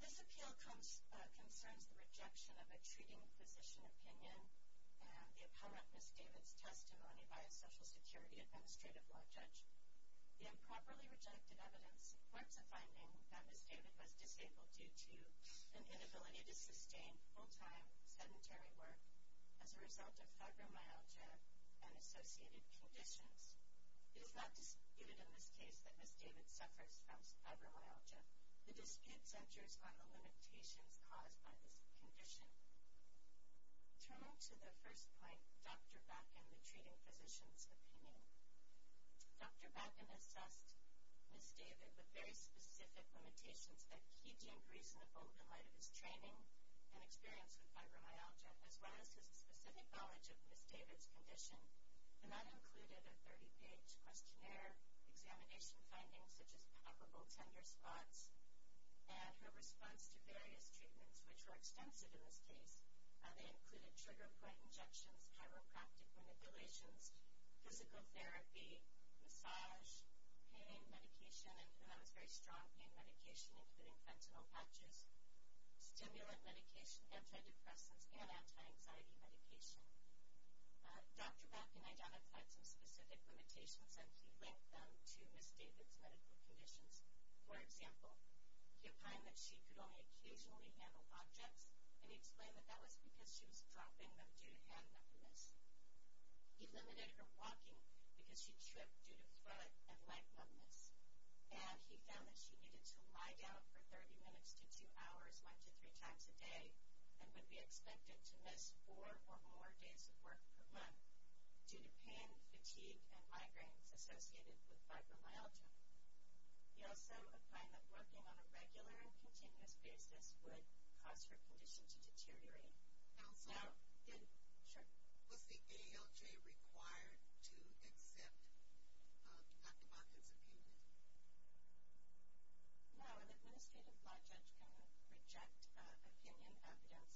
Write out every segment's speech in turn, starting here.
This appeal concerns the rejection of a treating physician opinion and the uponment of Ms. David's testimony by a Social Security Administrative Law Judge. The improperly rejected evidence supports a finding that Ms. David was disabled due to an inability to sustain full-time sedentary work as a result of fibromyalgia and associated conditions. It is not disputed in this case that Ms. David suffers from fibromyalgia. The dispute centers on the limitations caused by this condition. Turning to the first point, Dr. Bakken, the treating physician's opinion. Dr. Bakken assessed Ms. David with very specific limitations that he deemed reasonable in light of his training and experience with fibromyalgia, as well as his specific knowledge of Ms. David's condition. And that included a 30-page questionnaire, examination findings such as palpable tender spots, and her response to various treatments, which were extensive in this case. They included trigger point injections, chiropractic manipulations, physical therapy, massage, pain medication, and that was very strong pain medication including fentanyl patches, stimulant medication, antidepressants, and anti-anxiety medication. Dr. Bakken identified some specific limitations and he linked them to Ms. David's medical conditions. For example, he opined that she could only occasionally handle objects, and he explained that that was because she was dropping them due to hand numbness. He limited her walking because she tripped due to foot and leg numbness. And he found that she needed to lie down for 30 minutes to two hours, one to three times a day, and would be expected to miss four or more days of work per month due to pain, fatigue, and migraines associated with fibromyalgia. He also opined that walking on a regular and continuous basis would cause her condition to deteriorate. Counselor? Yes? Sure. Was the ALJ required to accept Dr. Bakken's opinion? No, an administrative law judge can reject opinion evidence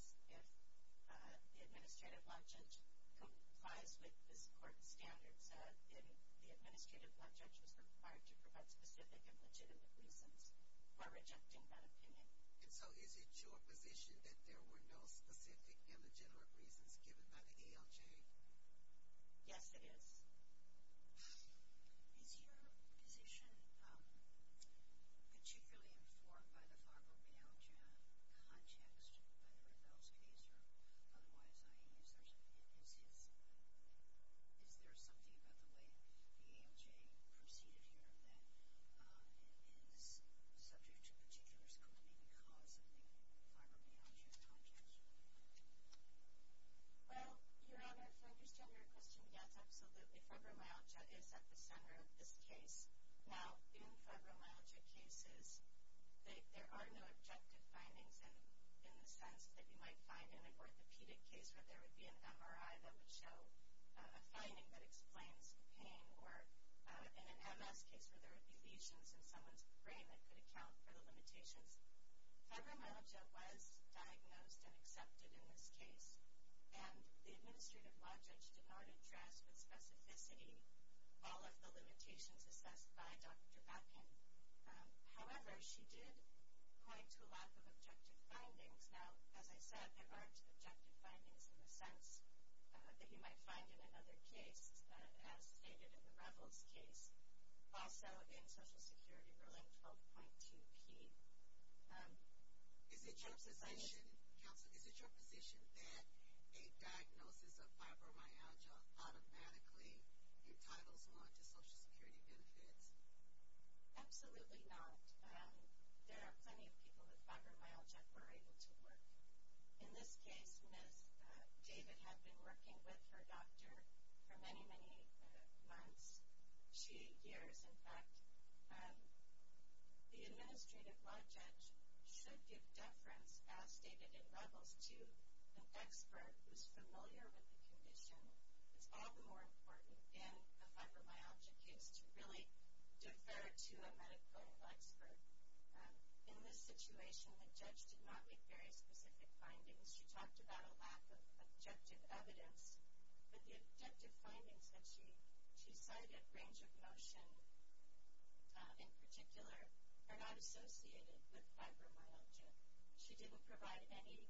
if the administrative law judge complies with the court standards. As you said, the administrative law judge was required to provide specific and legitimate reasons for rejecting that opinion. And so is it your position that there were no specific and legitimate reasons given by the ALJ? Yes, it is. Is your position particularly informed by the fibromyalgia context, whether in those cases or otherwise, i.e., is there something about the way the ALJ proceeded here that is subject to particular scrutiny because of the fibromyalgia context? Well, Your Honor, if I understand your question, yes, absolutely. Fibromyalgia is at the center of this case. Now, in fibromyalgia cases, there are no objective findings, in the sense that you might find in an orthopedic case where there would be an MRI that would show a finding that explains pain, or in an MS case where there would be lesions in someone's brain that could account for the limitations. Fibromyalgia was diagnosed and accepted in this case, and the administrative law judge did not address with specificity all of the limitations assessed by Dr. Beckin. However, she did point to a lack of objective findings. Now, as I said, there aren't objective findings in the sense that you might find in another case, as stated in the Revels case, also in Social Security Ruling 12.2p. Counsel, is it your position that a diagnosis of fibromyalgia automatically entitles one to Social Security benefits? Absolutely not. There are plenty of people with fibromyalgia who are able to work. In this case, Ms. David had been working with her doctor for many, many months, years, in fact. The administrative law judge should give deference, as stated in Revels, to an expert who is familiar with the condition. It's all the more important in a fibromyalgia case to really defer to a medical expert. In this situation, the judge did not make very specific findings. She talked about a lack of objective evidence, but the objective findings that she cited, range of motion in particular, are not associated with fibromyalgia. She didn't provide any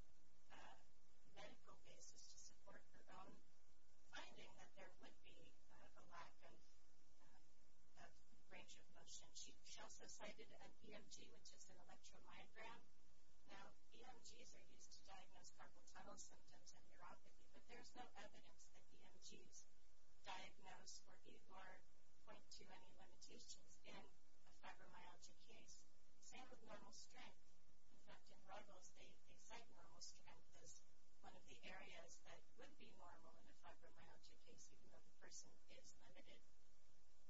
medical basis to support her own finding that there would be a lack of range of motion. She also cited an EMG, which is an electromyogram. Now, EMGs are used to diagnose carpal tunnel symptoms and neuropathy, but there's no evidence that EMGs diagnose or even point to any limitations in a fibromyalgia case. Same with normal strength. In fact, in Revels, they cite normal strength as one of the areas that would be normal in a fibromyalgia case, even though the person is limited.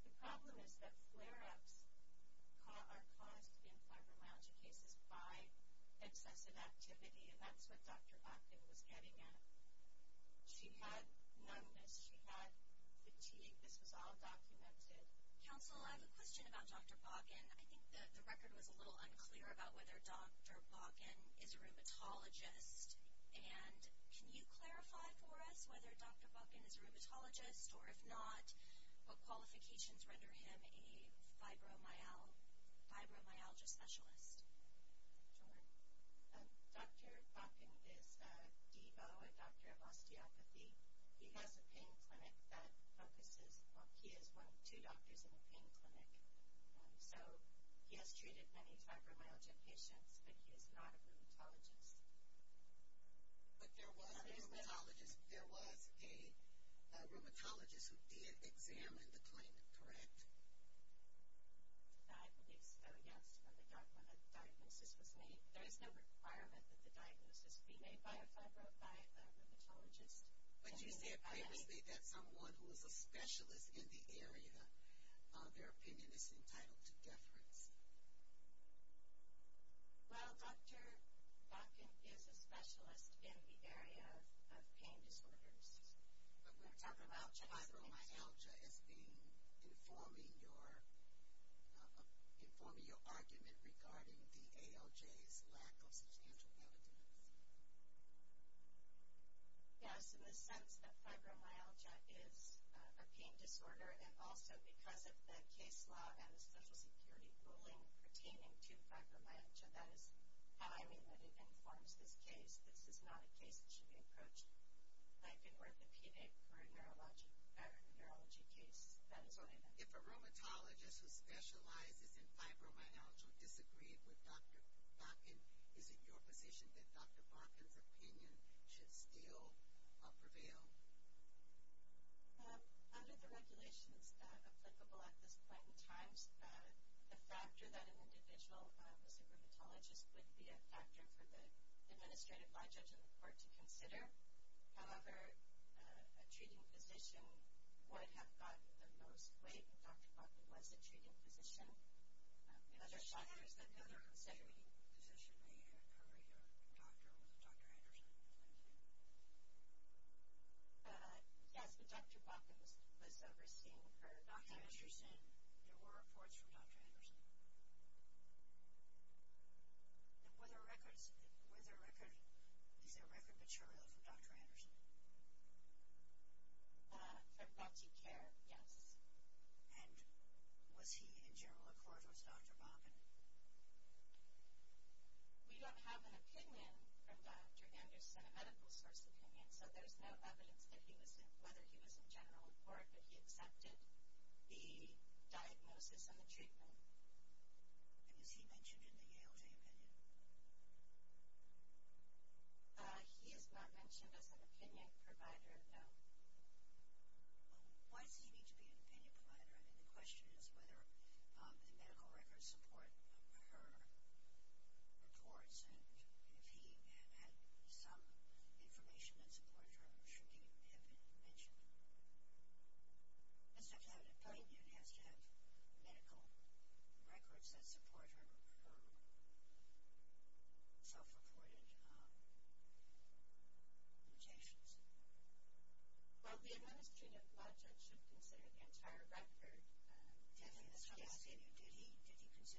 The problem is that flare-ups are caused in fibromyalgia cases by excessive activity, and that's what Dr. Boggan was getting at. She had numbness, she had fatigue, this was all documented. Counsel, I have a question about Dr. Boggan. I think the record was a little unclear about whether Dr. Boggan is a rheumatologist, and can you clarify for us whether Dr. Boggan is a rheumatologist, or if not, what qualifications render him a fibromyalgia specialist? Sure. Dr. Boggan is a DEBO, a doctor of osteopathy. He has a pain clinic that focuses on – he is one of two doctors in a pain clinic. So he has treated many fibromyalgia patients, but he is not a rheumatologist. But there was a rheumatologist who did examine the claimant, correct? I believe so, yes. When the diagnosis was made, there is no requirement that the diagnosis be made by a rheumatologist. But you said previously that someone who is a specialist in the area, their opinion is entitled to deference. Well, Dr. Boggan is a specialist in the area of pain disorders. But we're talking about fibromyalgia as being informing your argument regarding the ALJ's lack of substantial evidence. Yes, in the sense that fibromyalgia is a pain disorder, and also because of the case law and the Social Security ruling pertaining to fibromyalgia. That is how I mean that it informs this case. This is not a case that should be approached like in orthopedic or a neurology case. That is what I meant. If a rheumatologist who specializes in fibromyalgia disagreed with Dr. Boggan, is it your position that Dr. Boggan's opinion should still prevail? Under the regulations applicable at this point in time, the factor that an individual is a rheumatologist would be a factor for the administrative by-judge and the court to consider. However, a treating physician would have gotten the most weight, and Dr. Boggan was a treating physician. Is there another considering physician, a doctor, Dr. Anderson? Yes, but Dr. Boggan was overseeing her. As you said, there were reports from Dr. Anderson. And were there records? Is there record material from Dr. Anderson? From BaltiCare, yes. And was he in general accord with Dr. Boggan? We don't have an opinion from Dr. Anderson, a medical source opinion, so there's no evidence that he was in general accord, but he accepted the diagnosis and the treatment. And is he mentioned in the ALJ opinion? He is not mentioned as an opinion provider, no. Why does he need to be an opinion provider? I mean, the question is whether the medical records support her reports, and if he had some information that supported her, should he have been mentioned? Mr. Kennedy, the opinion has to have medical records that support her self-reported mutations. Well, the administration of blood tests should consider the entire record. Did he consider Dr. Anderson?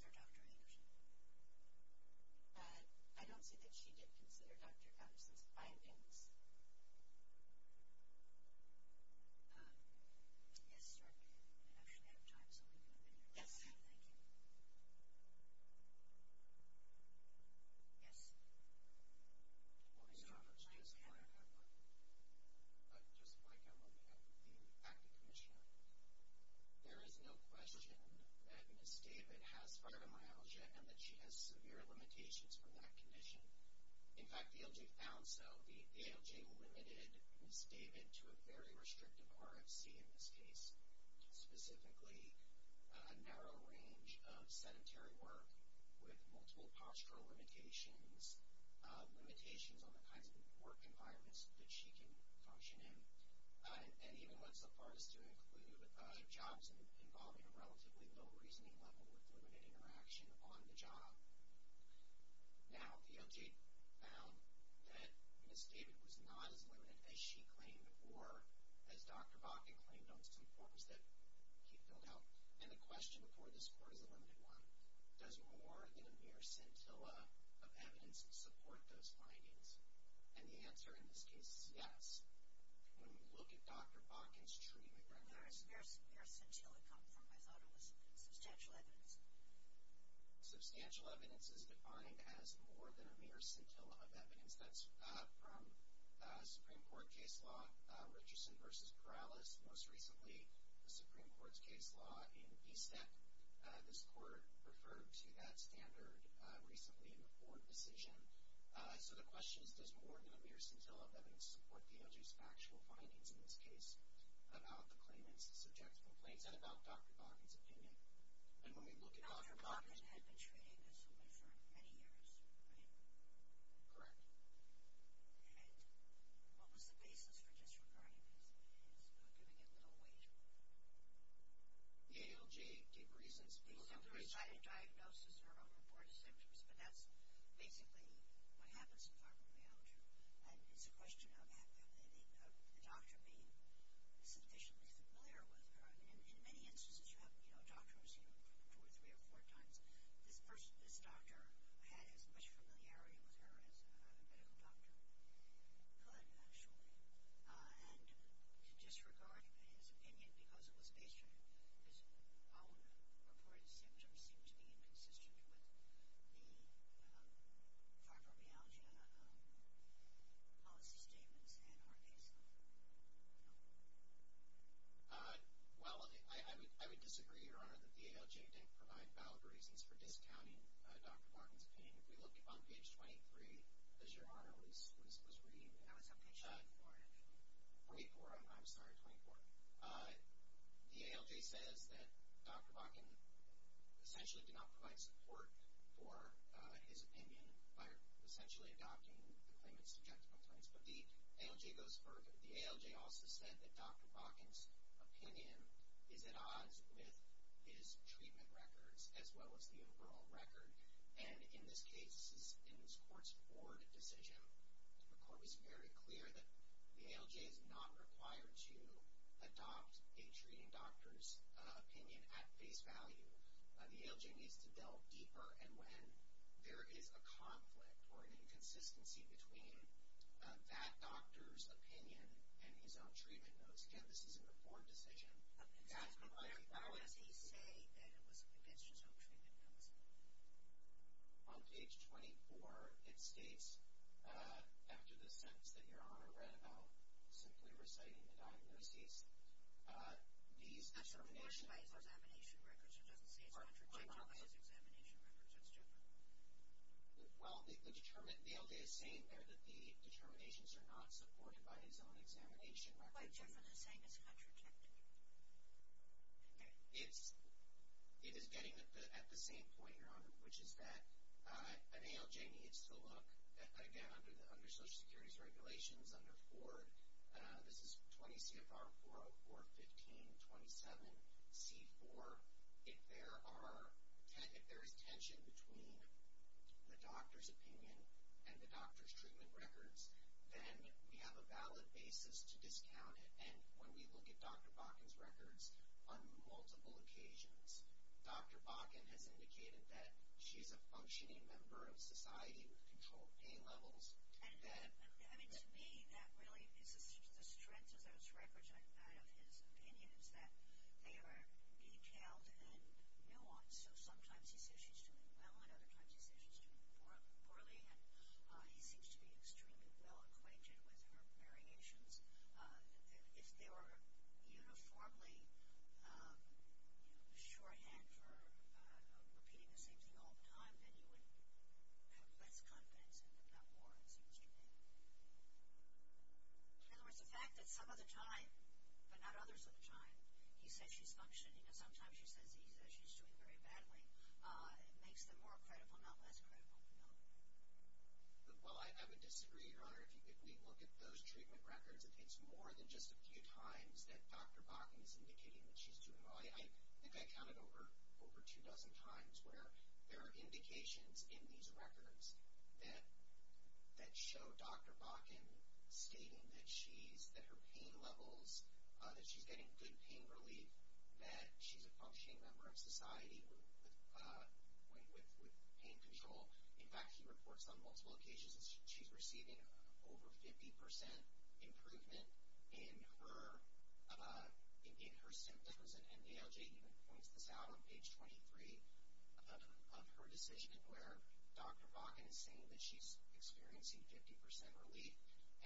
I don't see that she did consider Dr. Anderson's findings. Yes, sir. I don't actually have time, so I'll leave you up in the air. Yes. Thank you. Yes. Well, Mr. Roberts, just like I'm looking at the active commissioner, there is no question that Ms. David has fibromyalgia and that she has severe limitations from that condition. In fact, the ALJ found so. The ALJ limited Ms. David to a very restrictive RFC in this case, specifically a narrow range of sedentary work with multiple postural limitations, limitations on the kinds of work environments that she can function in. And even went so far as to include jobs involving a relatively low reasoning level with limited interaction on the job. Now, the ALJ found that Ms. David was not as limited as she claimed or as Dr. Bakke claimed on some forms that he filled out. And the question before this Court is a limited one. Does more than a mere scintilla of evidence support those findings? And the answer in this case is yes. When we look at Dr. Bakke's treatment right now. A mere scintilla come from, I thought it was substantial evidence. Substantial evidence is defined as more than a mere scintilla of evidence. That's from Supreme Court case law, Richardson v. Corrales, most recently the Supreme Court's case law in BSEC. This Court referred to that standard recently in the court decision. So the question is, does more than a mere scintilla of evidence support the ALJ's factual findings in this case about the claimants' subjective complaints and about Dr. Bakke's opinion? And when we look at Dr. Bakke's opinion. Dr. Bakke had been treating this woman for many years, right? Correct. And what was the basis for disregarding his giving it little weight? The ALJ gave reasons. The simpler side of diagnosis are a report of symptoms, but that's basically what happens in pharmacology. And it's a question of the doctor being sufficiently familiar with her. In many instances you have, you know, doctors, you know, two or three or four times. This doctor had as much familiarity with her as a medical doctor could, actually. And to disregard his opinion because it was based on his own report of symptoms seemed to be inconsistent with the pharmacology policy statements and our case law. Well, I would disagree, Your Honor, that the ALJ didn't provide valid reasons for discounting Dr. Bakke's opinion. If you look on page 23, as Your Honor was reading, and I was having a shot for it. 24, I'm sorry, 24. The ALJ says that Dr. Bakke essentially did not provide support for his opinion by essentially adopting the claimants' subjective complaints. But the ALJ goes further. The ALJ also said that Dr. Bakke's opinion is at odds with his treatment records as well as the overall record. And in this case, in this court's board decision, the court was very clear that the ALJ is not required to adopt a treating doctor's opinion at face value. The ALJ needs to delve deeper. And when there is a conflict or an inconsistency between that doctor's opinion and his own treatment notes, again, this is a report decision. But does he say that it was against his own treatment notes? On page 24, it states, after the sentence that Your Honor read about simply reciting the diagnoses, these determinations. That's not supported by his examination records. It doesn't say it's contra-checked by his examination records. That's stupid. Well, the determined ALJ is saying there that the determinations are not supported by his own examination records. It's quite different than saying it's contra-checked. Okay. It is getting at the same point, Your Honor, which is that an ALJ needs to look, again, under Social Security's regulations under Ford, this is 20 CFR 404, 15, 27, C4. If there is tension between the doctor's opinion and the doctor's treatment records, then we have a valid basis to discount it. And when we look at Dr. Bakken's records on multiple occasions, Dr. Bakken has indicated that she's a functioning member of society with controlled pain levels. I mean, to me, that really is the strength of those records, that of his opinion, is that they are detailed and nuanced. So sometimes he says she's doing well, and other times he says she's doing poorly, and he seems to be extremely well acquainted with her variations. If they were uniformly shorthand for repeating the same thing all the time, then you would have less confidence in her, not more, it seems to me. In other words, the fact that some of the time, but not others of the time, he says she's functioning and sometimes he says she's doing very badly, makes them more credible, not less credible. Well, I would disagree, Your Honor. If we look at those treatment records, it's more than just a few times that Dr. Bakken is indicating that she's doing well. I think I counted over two dozen times where there are indications in these records that show Dr. Bakken stating that her pain levels, that she's getting good pain relief, that she's a functioning member of society with pain control. In fact, he reports on multiple occasions that she's receiving over 50% improvement in her symptoms, and NARJ even points this out on page 23 of her decision, where Dr. Bakken is saying that she's experiencing 50% relief.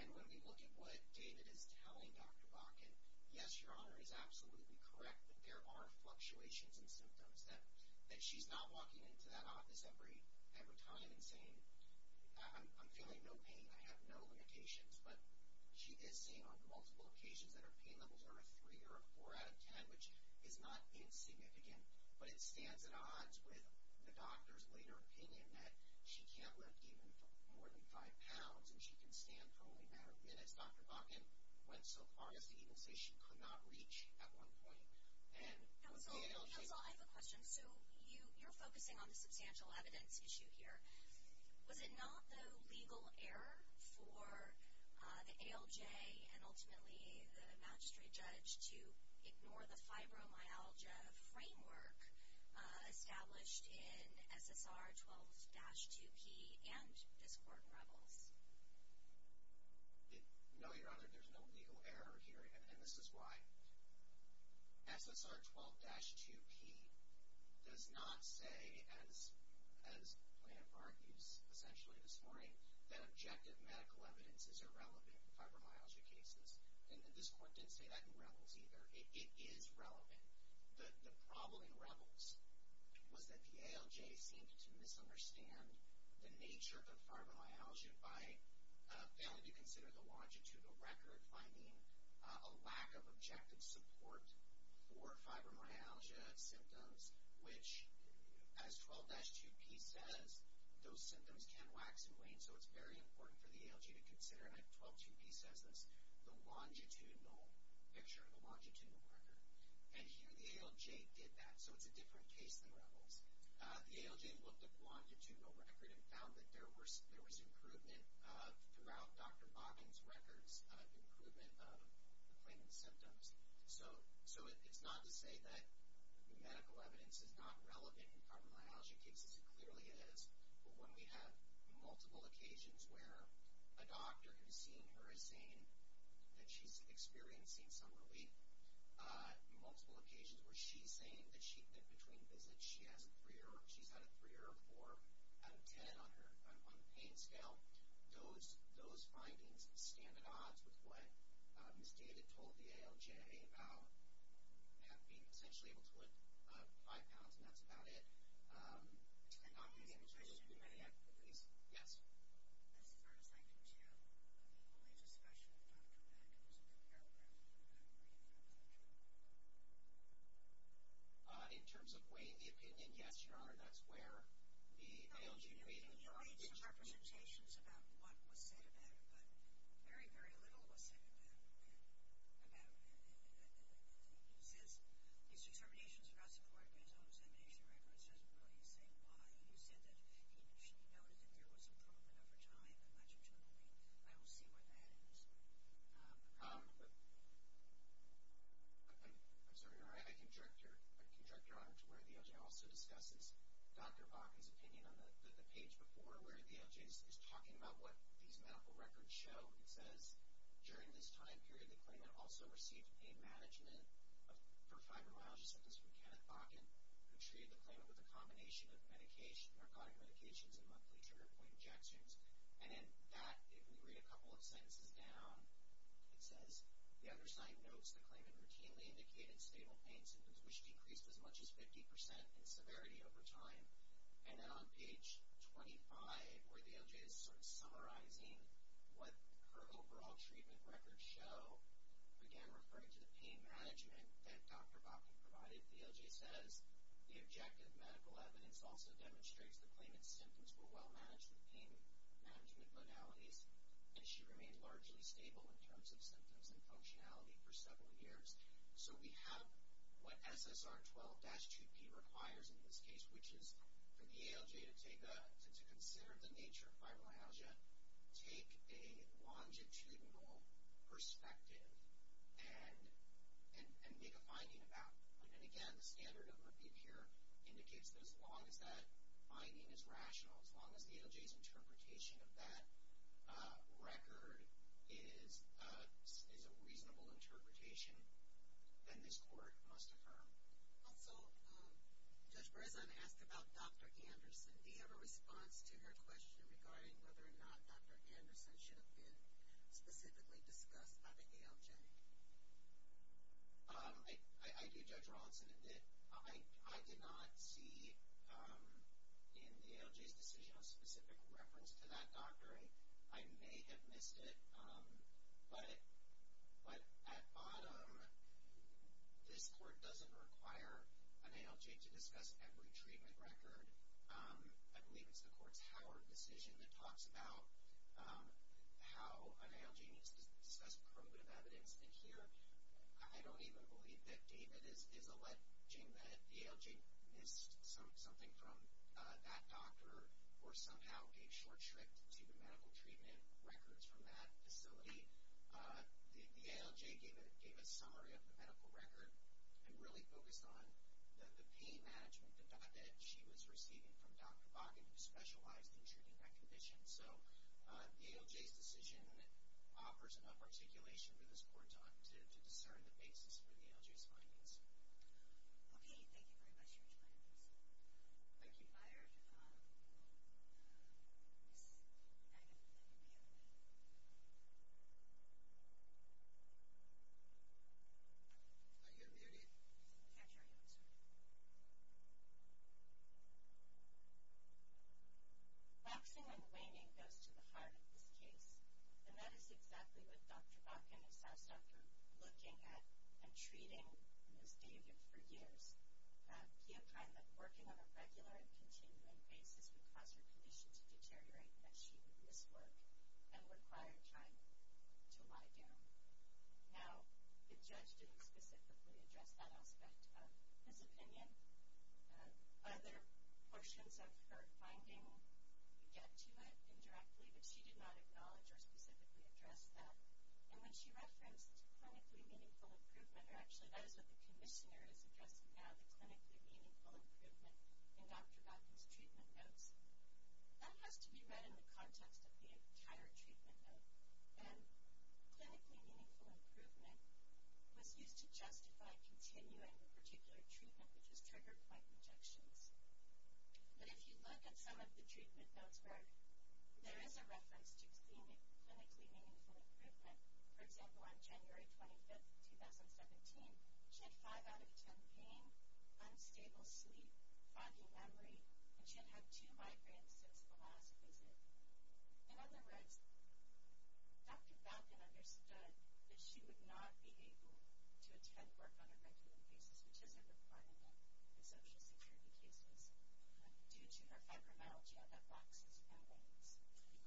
And when we look at what David is telling Dr. Bakken, yes, Your Honor is absolutely correct that there are fluctuations in symptoms, that she's not walking into that office every time and saying, I'm feeling no pain, I have no limitations, but she is saying on multiple occasions that her pain levels are a 3 or a 4 out of 10, which is not insignificant, but it stands at odds with the doctor's later opinion that she can't lift even more than 5 pounds and she can stand for only a matter of minutes. Dr. Bakken went so far as to even say she could not reach at one point. And with the ALJ... Counsel, I have a question. So you're focusing on the substantial evidence issue here. Was it not the legal error for the ALJ and ultimately the magistrate judge to ignore the fibromyalgia framework established in SSR 12-2P and this Court in Rebels? No, Your Honor, there's no legal error here. And this is why. SSR 12-2P does not say, as the plaintiff argues essentially this morning, that objective medical evidence is irrelevant in fibromyalgia cases. And this Court didn't say that in Rebels either. It is relevant. The problem in Rebels was that the ALJ seemed to misunderstand the nature of the fibromyalgia by failing to consider the longitude of the record, finding a lack of objective support for fibromyalgia symptoms, which, as 12-2P says, those symptoms can wax and wane. So it's very important for the ALJ to consider, and 12-2P says this, the longitudinal picture, the longitudinal record. And here the ALJ did that. So it's a different case than Rebels. The ALJ looked at the longitudinal record and found that there was improvement throughout Dr. Boggan's records, improvement of the plaintiff's symptoms. So it's not to say that medical evidence is not relevant in fibromyalgia cases. It clearly is. But when we have multiple occasions where a doctor who has seen her is saying that she's experiencing some relief, multiple occasions where she's saying that she, in between visits, she's had a 3 or a 4 out of 10 on the pain scale, those findings stand at odds with what Ms. David told the ALJ about being essentially able to lift 5 pounds, and that's about it. Any other questions? Yes? I just wanted to thank you, too. The only discussion with Dr. Boggan was with the aircraft, and I believe that's the truth. In terms of weighing the opinion, yes, Your Honor, that's where the ALJ weighed in. You made some representations about what was said about it, but very, very little was said about it. It says, these determinations are not supported by his own examination records. It doesn't really say why. You said that she noted that there was improvement over time. I'm not sure what you mean. I will see where that ends. I'm sorry, Your Honor. I can direct Your Honor to where the ALJ also discusses Dr. Boggan's opinion on the page before where the ALJ is talking about what these medical records show. It says, during this time period, the claimant also received pain management for fibromyalgia symptoms from Kenneth Boggan, who treated the claimant with a combination of narcotic medications and monthly trigger-point injections. And in that, if we read a couple of sentences down, it says, the other side notes the claimant routinely indicated stable pain symptoms, which decreased as much as 50% in severity over time. And then on page 25, where the ALJ is sort of summarizing what her overall treatment records show, again referring to the pain management that Dr. Boggan provided, the ALJ says, the objective medical evidence also demonstrates the claimant's symptoms were well managed with pain management modalities, and she remained largely stable in terms of symptoms and functionality for several years. So we have what SSR 12-2P requires in this case, which is for the ALJ to consider the nature of fibromyalgia, take a longitudinal perspective, and make a finding about it. And again, the standard overview here indicates that as long as that finding is rational, as long as the ALJ's interpretation of that record is a reasonable interpretation, then this court must affirm. Also, Judge Brezan asked about Dr. Anderson. Do you have a response to her question regarding whether or not Dr. Anderson should have been specifically discussed by the ALJ? I do, Judge Rawlinson. I did not see in the ALJ's decision a specific reference to that doctor. I may have missed it. But at bottom, this court doesn't require an ALJ to discuss every treatment record. I believe it's the court's Howard decision that talks about how an ALJ needs to discuss probative evidence. And here, I don't even believe that David is alleging that the ALJ missed something from that doctor or somehow came short-stripped to the medical treatment records from that facility. The ALJ gave a summary of the medical record and really focused on the pain management that she was receiving from Dr. Boggan, who specialized in treating that condition. So the ALJ's decision offers enough articulation for this court to discern the basis for the ALJ's findings. Okay. Thank you very much, Judge Brezan. Thank you, Judge Rawlinson. Thank you, Byron. Ms. Nagan, did you have any? Are you unmuted? Yes, I am. Boxing and waning goes to the heart of this case, and that is exactly what Dr. Boggan assessed after looking at and treating Ms. David for years. He opined that working on a regular and continuing basis would cause her condition to deteriorate and that she would miss work and require time to lie down. Now, the judge didn't specifically address that aspect of his opinion. Other portions of her finding get to it indirectly, but she did not acknowledge or specifically address that. And when she referenced clinically meaningful improvement, or actually that is what the commissioner is addressing now, the clinically meaningful improvement in Dr. Boggan's treatment notes, that has to be read in the context of the entire treatment note. And clinically meaningful improvement was used to justify continuing a particular treatment, which was trigger point injections. But if you look at some of the treatment notes where there is a reference to clinically meaningful improvement, for example, on January 25, 2017, she had 5 out of 10 pain, unstable sleep, foggy memory, and she had had two migraines since the last visit. In other words, Dr. Boggan understood that she would not be able to attend work on a regular basis, which is a requirement in social security cases, due to her fibromyalgia that boxes and wanes. Okay, thank you very much. Thank you both very much for your arguments. In the case of David v. Akita, Kazi is the man. Thank you very much. Chodosh v. Soldiers.